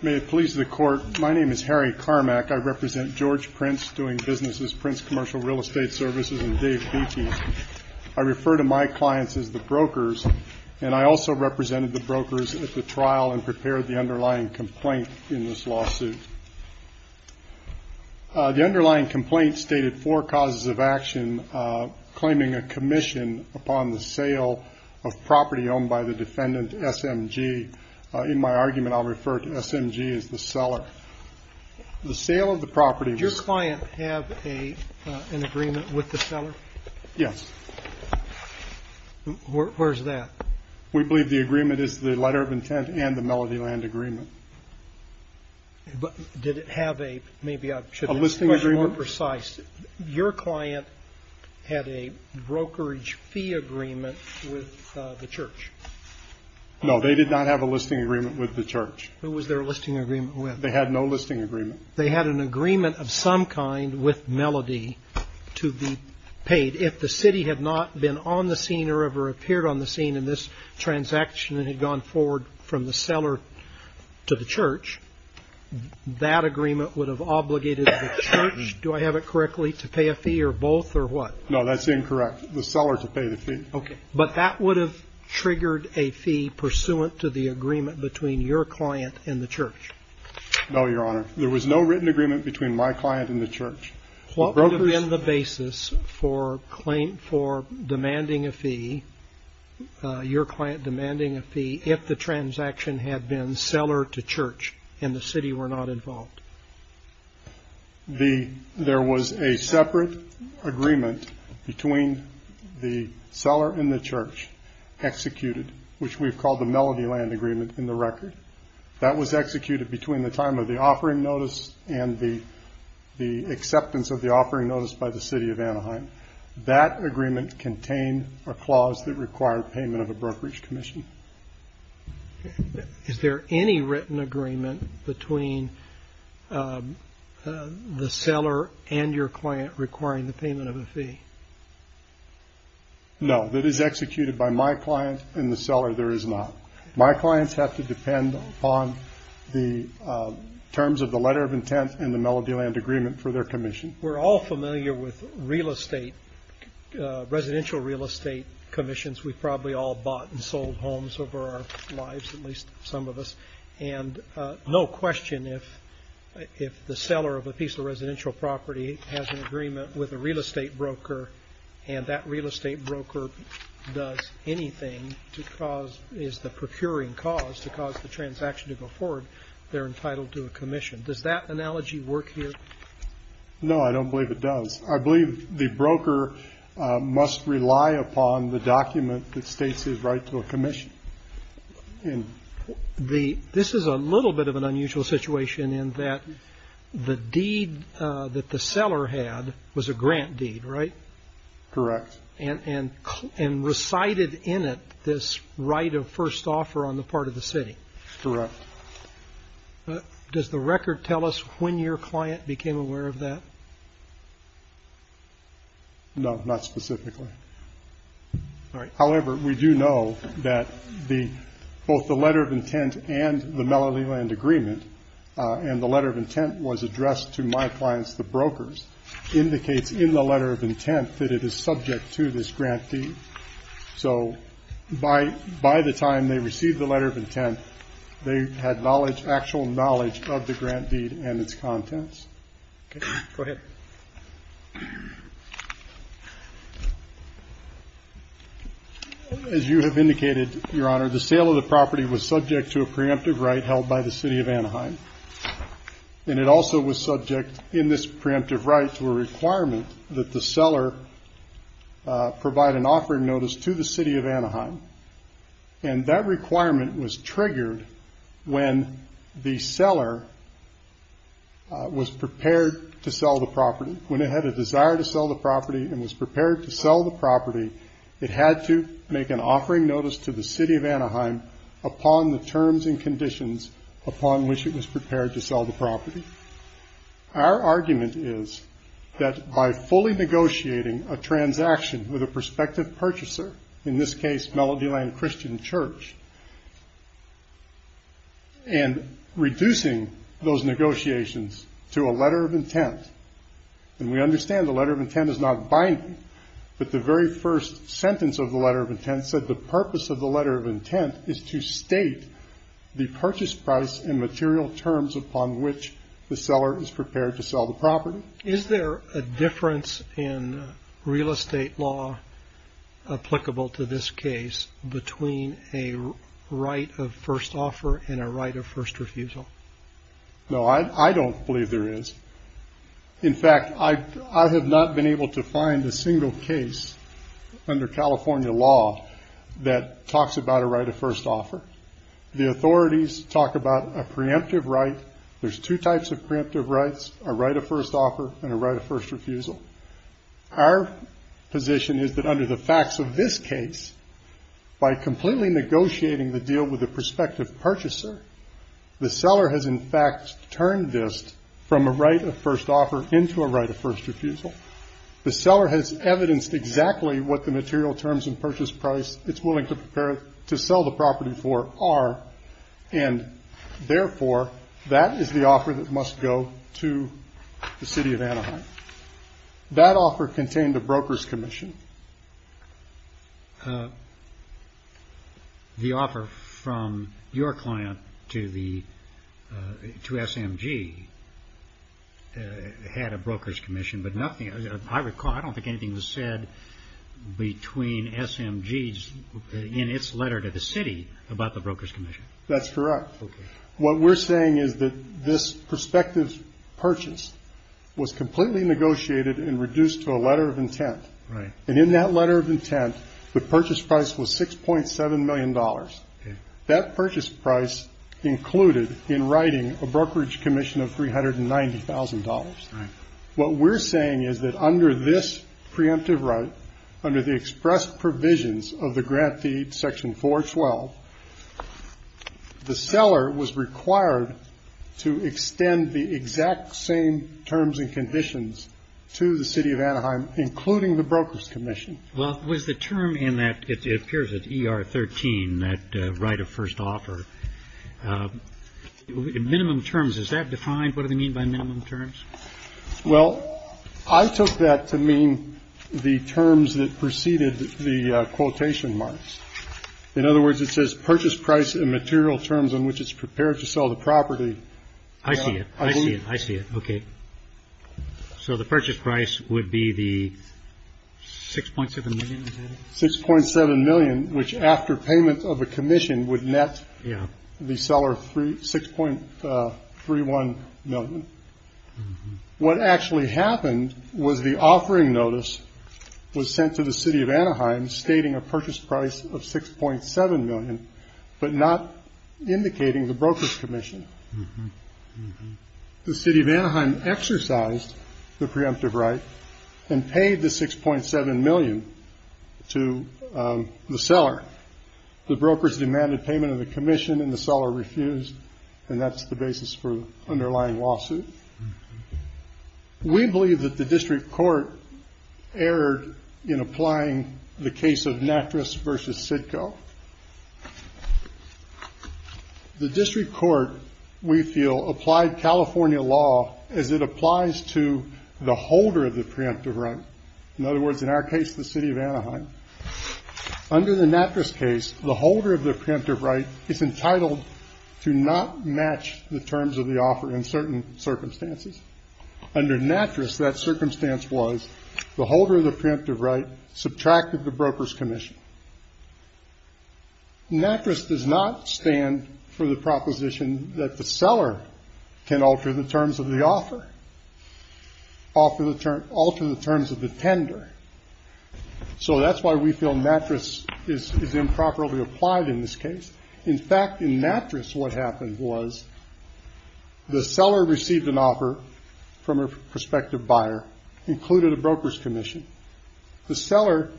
May it please the court, my name is Harry Carmack. I represent George Prince doing businesses, Prince Commercial Real Estate Services and Dave Beatties. I refer to my clients as the brokers and I also represented the brokers at the trial and prepared the underlying complaint in this lawsuit. The underlying complaint stated four causes of action, claiming a commission upon the sale of property owned by the defendant SMG. In my argument, I'll refer to SMG as the seller. The sale of the property... Did your client have an agreement with the seller? Yes. Where's that? We believe the agreement is the letter of intent and the Melody Land agreement. But did it have a... maybe I should be more precise. A listing agreement? Your client had a brokerage fee agreement with the church. No, they did not have a listing agreement with the church. Who was their listing agreement with? They had no listing agreement. They had an agreement of some kind with Melody to be paid. If the city had not been on the scene or ever appeared on the scene in this transaction and had gone forward from the seller to the church, that agreement would have obligated the church. Do I have it correctly to pay a fee or both or what? No, that's incorrect. The seller to pay the fee. But that would have triggered a fee pursuant to the agreement between your client and the church. No, Your Honor. There was no written agreement between my client and the church. What would have been the basis for demanding a fee, your client demanding a fee, if the transaction had been seller to church and the city were not involved? There was a separate agreement between the seller and the church executed, which we've called the Melody Land Agreement in the record. That was executed between the time of the offering notice and the acceptance of the offering notice by the city of Anaheim. That agreement contained a clause that required payment of a brokerage commission. Is there any written agreement between the seller and your client requiring the payment of a fee? No, that is executed by my client and the seller there is not. My clients have to depend on the terms of the letter of intent and the Melody Land Agreement for their commission. We're all familiar with real estate, residential real estate commissions. We've probably all bought and sold homes over our lives, at least some of us. And no question if the seller of a piece of residential property has an agreement with a real estate broker and that real estate broker does anything to cause, is the procuring cause to cause the transaction to go forward, they're entitled to a commission. Does that analogy work here? No, I don't believe it does. I believe the broker must rely upon the document that states his right to a commission. This is a little bit of an unusual situation in that the deed that the seller had was a grant deed, right? Correct. And recited in it this right of first offer on the part of the city. Correct. Does the record tell us when your client became aware of that? No, not specifically. However, we do know that both the letter of intent and the Melody Land Agreement, and the letter of intent was addressed to my clients, the brokers, indicates in the letter of intent that it is subject to this grant deed. So by the time they received the letter of intent, they had knowledge, actual knowledge of the grant deed and its contents. Okay. Go ahead. As you have indicated, Your Honor, the sale of the property was subject to a preemptive right held by the city of Anaheim. And it also was subject in this preemptive right to a requirement that the seller provide an offering notice to the city of Anaheim. And that requirement was triggered when the seller was prepared to sell the property. When it had a desire to sell the property and was prepared to sell the property, it had to make an offering notice to the city of Anaheim upon the terms and conditions upon which it was prepared to sell the property. Our argument is that by fully negotiating a transaction with a prospective purchaser, in this case Melody Land Christian Church, and reducing those negotiations to a letter of intent, and we understand the letter of intent is not binding, but the very first sentence of the letter of intent said the purpose of the letter of intent is to state the purchase price and material terms upon which the seller is prepared to sell the property. Is there a difference in real estate law applicable to this case between a right of first offer and a right of first refusal? No, I don't believe there is. In fact, I have not been able to find a single case under California law that talks about a right of first offer. The authorities talk about a preemptive right. There's two types of preemptive rights, a right of first offer and a right of first refusal. Our position is that under the facts of this case, by completely negotiating the deal with the prospective purchaser, the seller has in fact turned this from a right of first offer into a right of first refusal. The seller has evidenced exactly what the material terms and purchase price it's willing to sell the property for are, and therefore that is the offer that must go to the city of Anaheim. That offer contained a broker's commission. The offer from your client to SMG had a broker's commission, but I don't think anything was said between SMG in its letter to the city about the broker's commission. That's correct. What we're saying is that this prospective purchase was completely negotiated and reduced to a letter of intent. And in that letter of intent, the purchase price was $6.7 million. That purchase price included in writing a brokerage commission of $390,000. What we're saying is that under this preemptive right, under the express provisions of the grant deed section 412, the seller was required to extend the exact same terms and conditions to the city of Anaheim, including the broker's commission. Well, was the term in that, it appears it's ER 13, that right of first offer. In minimum terms, is that defined? What do they mean by minimum terms? Well, I took that to mean the terms that preceded the quotation marks. In other words, it says purchase price and material terms in which it's prepared to sell the property. I see it. I see it. I see it. Okay. So the purchase price would be the 6.7 million, 6.7 million, which after payment of a commission would net the seller 6.31 million. What actually happened was the offering notice was sent to the city of Anaheim stating a purchase price of 6.7 million, but not indicating the broker's commission. The city of Anaheim exercised the preemptive right and paid the 6.7 million to the seller. The brokers demanded payment of the commission and the seller refused, and that's the basis for the underlying lawsuit. We believe that the district court erred in applying the case of Natris versus Sitco. The district court, we feel, applied California law as it applies to the holder of the preemptive right. In other words, in our case, the city of Anaheim. Under the Natris case, the holder of the preemptive right is entitled to not match the terms of the offer in certain circumstances. Under Natris, that circumstance was the holder of the preemptive right subtracted the broker's commission. Natris does not stand for the proposition that the seller can alter the terms of the offer, alter the terms of the tender. So that's why we feel Natris is improperly applied in this case. In fact, in Natris, what happened was the seller received an offer from a prospective buyer, included a broker's commission. The seller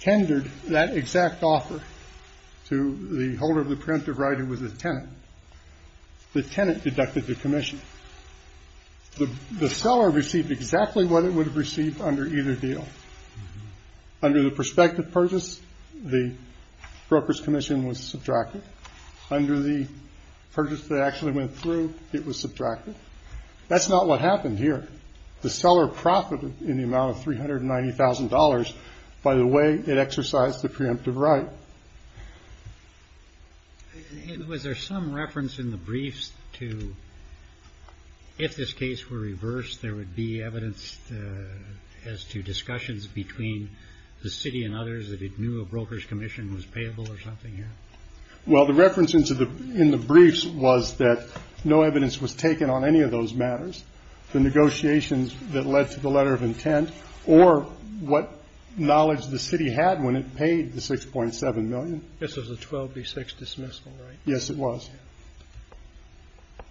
tendered that exact offer to the holder of the preemptive right who was a tenant. The tenant deducted the commission. The seller received exactly what it would have received under either deal. Under the prospective purchase, the broker's commission was subtracted. Under the purchase that actually went through, it was subtracted. That's not what happened here. The seller profited in the amount of $390,000 by the way it exercised the preemptive right. Was there some reference in the briefs to if this case were reversed, there would be evidence as to discussions between the city and others that it knew a broker's commission was payable or something here? Well, the reference in the briefs was that no evidence was taken on any of those matters. The negotiations that led to the letter of intent or what knowledge the city had when it paid the $6.7 million. This was a 12B6 dismissal, right? Yes, it was.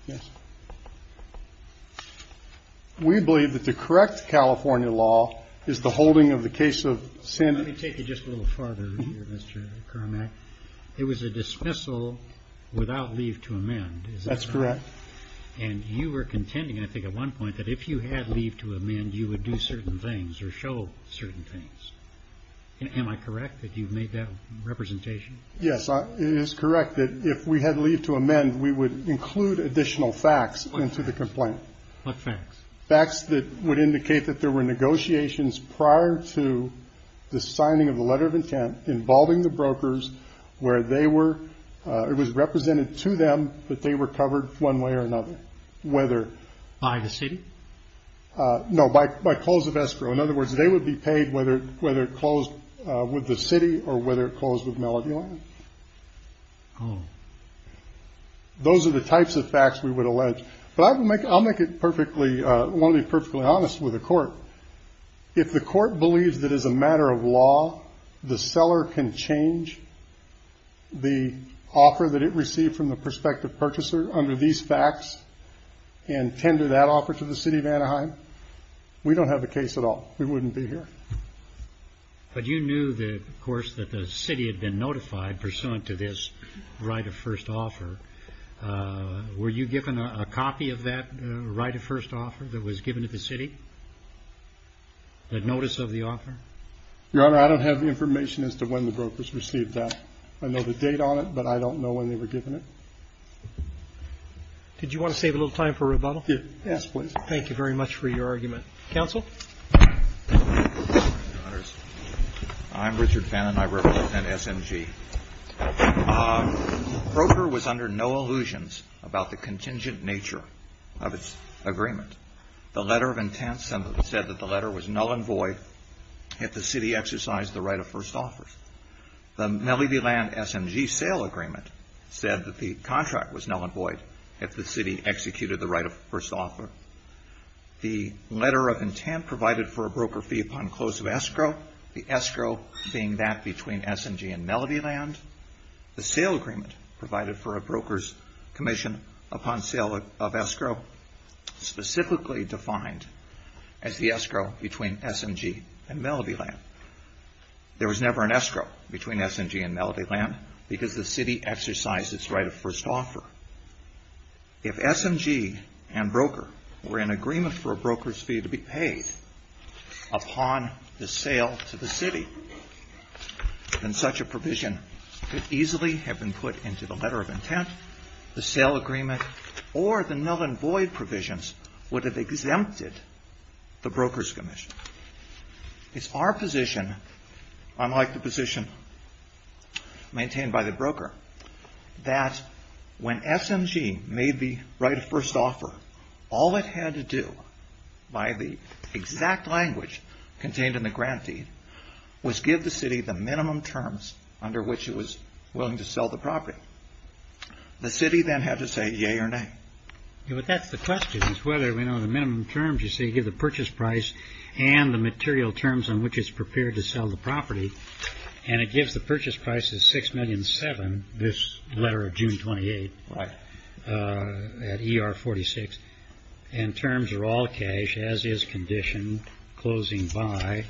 Yes. We believe that the correct California law is the holding of the case of sin. Let me take it just a little farther here, Mr. Carmack. It was a dismissal without leave to amend. That's correct. And you were contending I think at one point that if you had leave to amend, you would do certain things or show certain things. Am I correct that you've made that representation? Yes, it is correct that if we had leave to amend, we would include additional facts into the complaint. What facts? Facts that would indicate that there were negotiations prior to the signing of the letter of intent involving the brokers where they were. It was represented to them that they were covered one way or another. By the city? No, by close of escrow. In other words, they would be paid whether it closed with the city or whether it closed with Melody Land. Oh. Those are the types of facts we would allege. I'll make it perfectly honest with the court. If the court believes that as a matter of law, the seller can change the offer that it received from the prospective purchaser under these facts and tender that offer to the city of Anaheim, we don't have a case at all. We wouldn't be here. But you knew, of course, that the city had been notified pursuant to this right of first offer. Were you given a copy of that right of first offer that was given to the city, that notice of the offer? Your Honor, I don't have the information as to when the brokers received that. I know the date on it, but I don't know when they were given it. Did you want to save a little time for rebuttal? Yes, please. Thank you very much for your argument. Counsel? I'm Richard Fannin. I represent SMG. The broker was under no illusions about the contingent nature of its agreement. The letter of intent said that the letter was null and void if the city exercised the right of first offer. The Melody Land SMG sale agreement said that the contract was null and void if the city executed the right of first offer. The letter of intent provided for a broker fee upon close of escrow. The escrow being that between SMG and Melody Land. The sale agreement provided for a broker's commission upon sale of escrow, specifically defined as the escrow between SMG and Melody Land. There was never an escrow between SMG and Melody Land because the city exercised its right of first offer. If SMG and broker were in agreement for a broker's fee to be paid upon the sale to the city, then such a provision could easily have been put into the letter of intent, the sale agreement, or the null and void provisions would have exempted the broker's commission. It's our position, unlike the position maintained by the broker, that when SMG made the right of first offer, all it had to do by the exact language contained in the grant deed was give the city the minimum terms under which it was willing to sell the property. The city then had to say yea or nay. But that's the question, is whether the minimum terms you say give the purchase price and the material terms on which it's prepared to sell the property. And it gives the purchase price as $6,700,000 this letter of June 28 at ER 46. And terms are all cash, as is condition, closing by.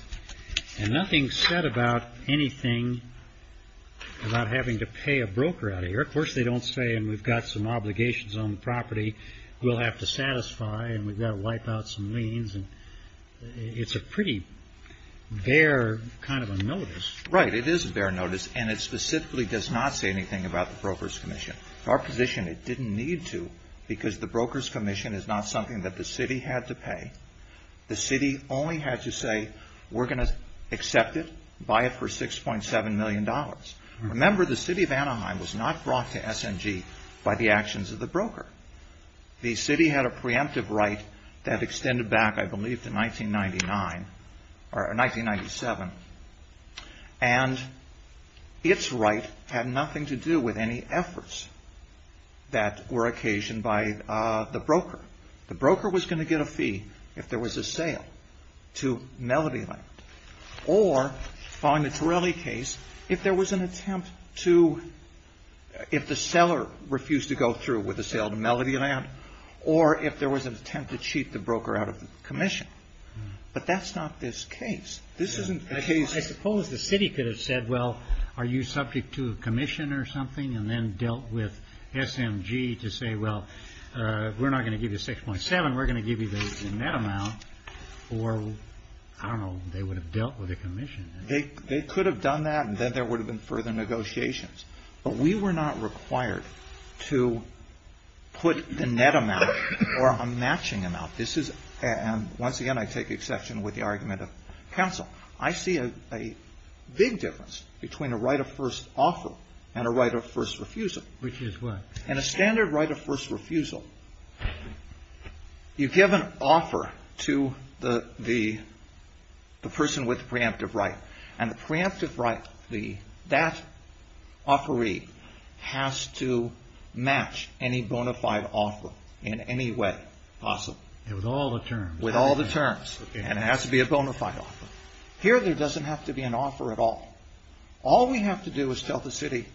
And nothing's said about anything about having to pay a broker out of here. Of course they don't say, and we've got some obligations on the property we'll have to satisfy and we've got to wipe out some liens. It's a pretty bare kind of a notice. Right, it is a bare notice, and it specifically does not say anything about the broker's commission. Our position, it didn't need to because the broker's commission is not something that the city had to pay. The city only had to say we're going to accept it, buy it for $6.7 million. Remember, the city of Anaheim was not brought to SMG by the actions of the broker. The city had a preemptive right that extended back, I believe, to 1997. And its right had nothing to do with any efforts that were occasioned by the broker. The broker was going to get a fee if there was a sale to Melody Land. Or, following the Torelli case, if there was an attempt to, if the seller refused to go through with a sale to Melody Land, or if there was an attempt to cheat the broker out of the commission. But that's not this case. This isn't the case. I suppose the city could have said, well, are you subject to a commission or something, and then dealt with SMG to say, well, we're not going to give you $6.7, we're going to give you that amount. Or, I don't know, they would have dealt with a commission. They could have done that, and then there would have been further negotiations. But we were not required to put the net amount or a matching amount. This is, and once again, I take exception with the argument of counsel. I see a big difference between a right of first offer and a right of first refusal. Which is what? In a standard right of first refusal, you give an offer to the person with the preemptive right, and the preemptive right, that offeree has to match any bona fide offer in any way possible. With all the terms. With all the terms. And it has to be a bona fide offer. Here, there doesn't have to be an offer at all. All we have to do is tell the city,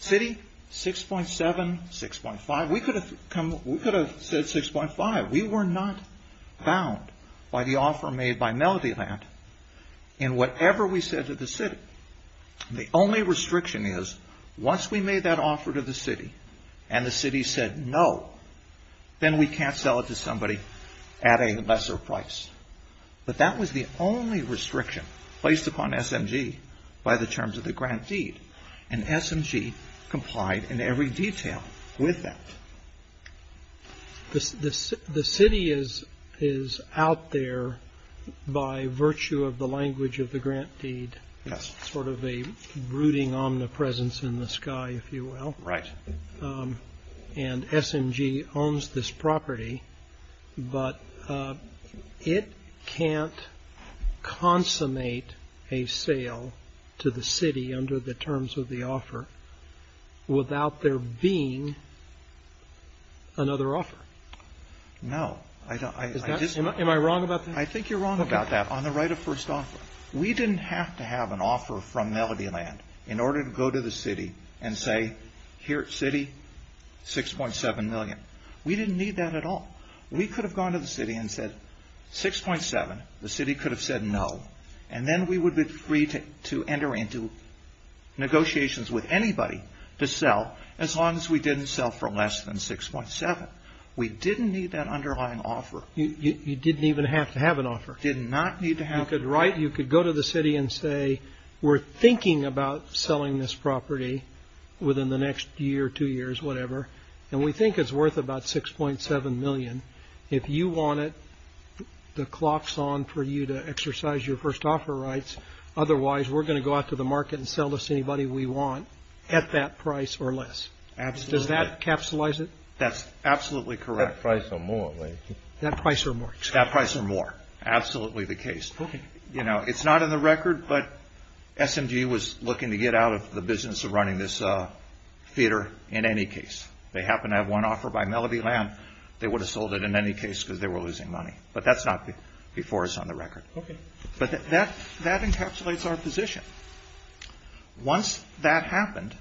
city, 6.7, 6.5. We could have said 6.5. We were not bound by the offer made by Melody Land in whatever we said to the city. The only restriction is, once we made that offer to the city, and the city said no, then we can't sell it to somebody at a lesser price. But that was the only restriction placed upon SMG by the terms of the grant deed. And SMG complied in every detail with that. The city is out there by virtue of the language of the grant deed. Yes. Sort of a brooding omnipresence in the sky, if you will. Right. And SMG owns this property, but it can't consummate a sale to the city under the terms of the offer without there being another offer. No. Am I wrong about that? I think you're wrong about that on the right of first offer. We didn't have to have an offer from Melody Land in order to go to the city and say, here, city, 6.7 million. We didn't need that at all. We could have gone to the city and said 6.7. The city could have said no. And then we would be free to enter into negotiations with anybody to sell, as long as we didn't sell for less than 6.7. We didn't need that underlying offer. You didn't even have to have an offer. Did not need to have an offer. You could write, you could go to the city and say, we're thinking about selling this property within the next year, two years, whatever, and we think it's worth about 6.7 million. If you want it, the clock's on for you to exercise your first offer rights. Otherwise, we're going to go out to the market and sell this to anybody we want at that price or less. Absolutely. Does that capsulize it? That's absolutely correct. That price or more. That price or more. That price or more. Absolutely the case. Okay. You know, it's not in the record, but SMG was looking to get out of the business of running this theater in any case. They happened to have one offer by Melody Lamb. They would have sold it in any case because they were losing money. But that's not before us on the record. Okay. But that encapsulates our position. Once that happened,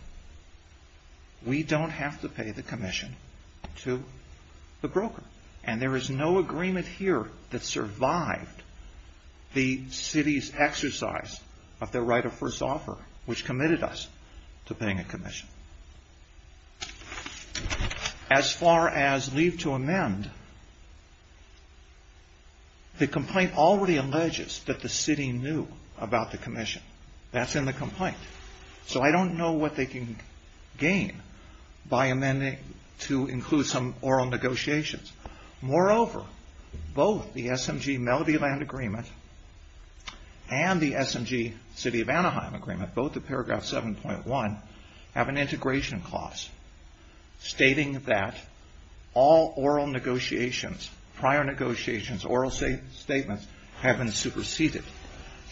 we don't have to pay the commission to the broker. And there is no agreement here that survived the city's exercise of their right of first offer, which committed us to paying a commission. As far as leave to amend, the complaint already alleges that the city knew about the commission. That's in the complaint. So I don't know what they can gain by amending to include some oral negotiations. Moreover, both the SMG-Melody Lamb agreement and the SMG-City of Anaheim agreement, both of paragraph 7.1, have an integration clause stating that all oral negotiations, prior negotiations, oral statements have been superseded.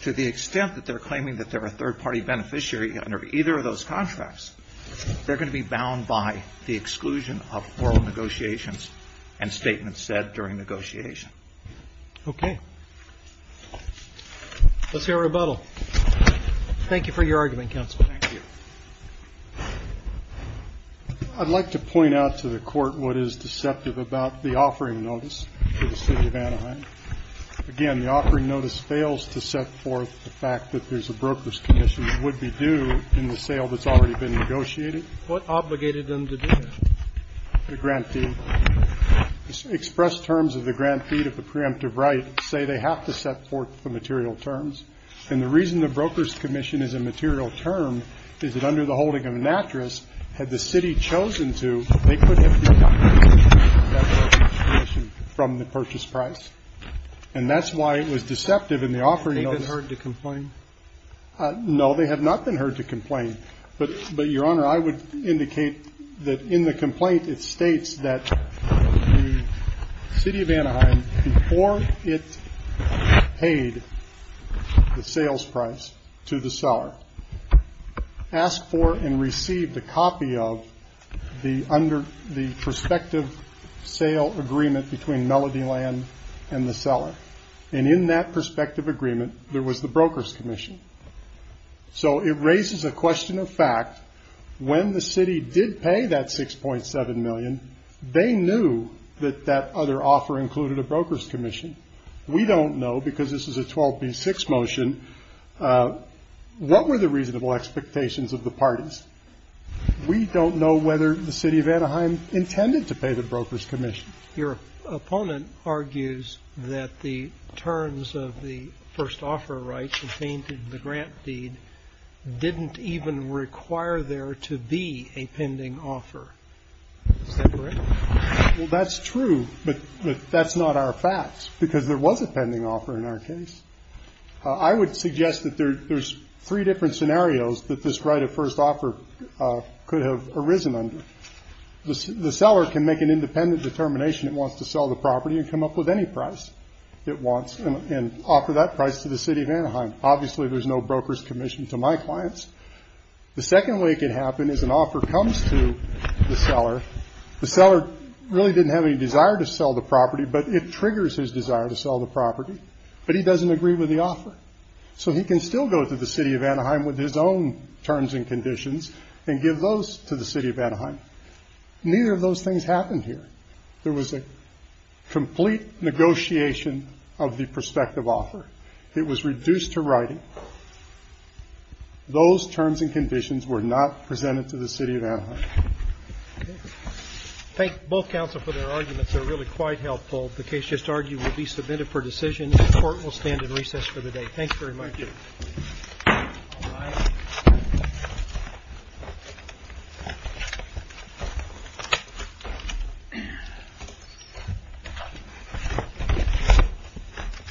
To the extent that they're claiming that they're a third-party beneficiary under either of those contracts, they're going to be bound by the exclusion of oral negotiations and statements said during negotiation. Okay. Let's hear a rebuttal. Thank you for your argument, counsel. Thank you. I'd like to point out to the court what is deceptive about the offering notice to the city of Anaheim. Again, the offering notice fails to set forth the fact that there's a broker's commission that would be due in the sale that's already been negotiated. What obligated them to do that? The grant fee. Expressed terms of the grant fee to the preemptive right say they have to set forth the material terms. And the reason the broker's commission is a material term is that under the holding had the city chosen to, they couldn't have done that. And that's why it was deceptive in the offering notice. Have they been heard to complain? No, they have not been heard to complain. But, Your Honor, I would indicate that in the complaint it states that the city of Anaheim, before it paid the sales price to the seller, asked for and received a copy of the prospective sale agreement between Melody Land and the seller. And in that prospective agreement, there was the broker's commission. So it raises a question of fact. When the city did pay that $6.7 million, they knew that that other offer included a broker's commission. We don't know, because this is a 12B6 motion, what were the reasonable expectations of the parties. We don't know whether the city of Anaheim intended to pay the broker's commission. Your opponent argues that the terms of the first offer right contained in the grant deed didn't even require there to be a pending offer. Is that correct? Well, that's true, but that's not our fact, because there was a pending offer in our case. I would suggest that there's three different scenarios that this right of first offer could have arisen under. The seller can make an independent determination that wants to sell the property and come up with any price it wants and offer that price to the city of Anaheim. Obviously, there's no broker's commission to my clients. The second way it could happen is an offer comes to the seller. The seller really didn't have any desire to sell the property, but it triggers his desire to sell the property, but he doesn't agree with the offer. So he can still go to the city of Anaheim with his own terms and conditions and give those to the city of Anaheim. Neither of those things happened here. There was a complete negotiation of the prospective offer. It was reduced to writing. Those terms and conditions were not presented to the city of Anaheim. Thank both counsel for their arguments. They're really quite helpful. The case just argued will be submitted for decision. The court will stand in recess for the day. Thank you very much. Thank you.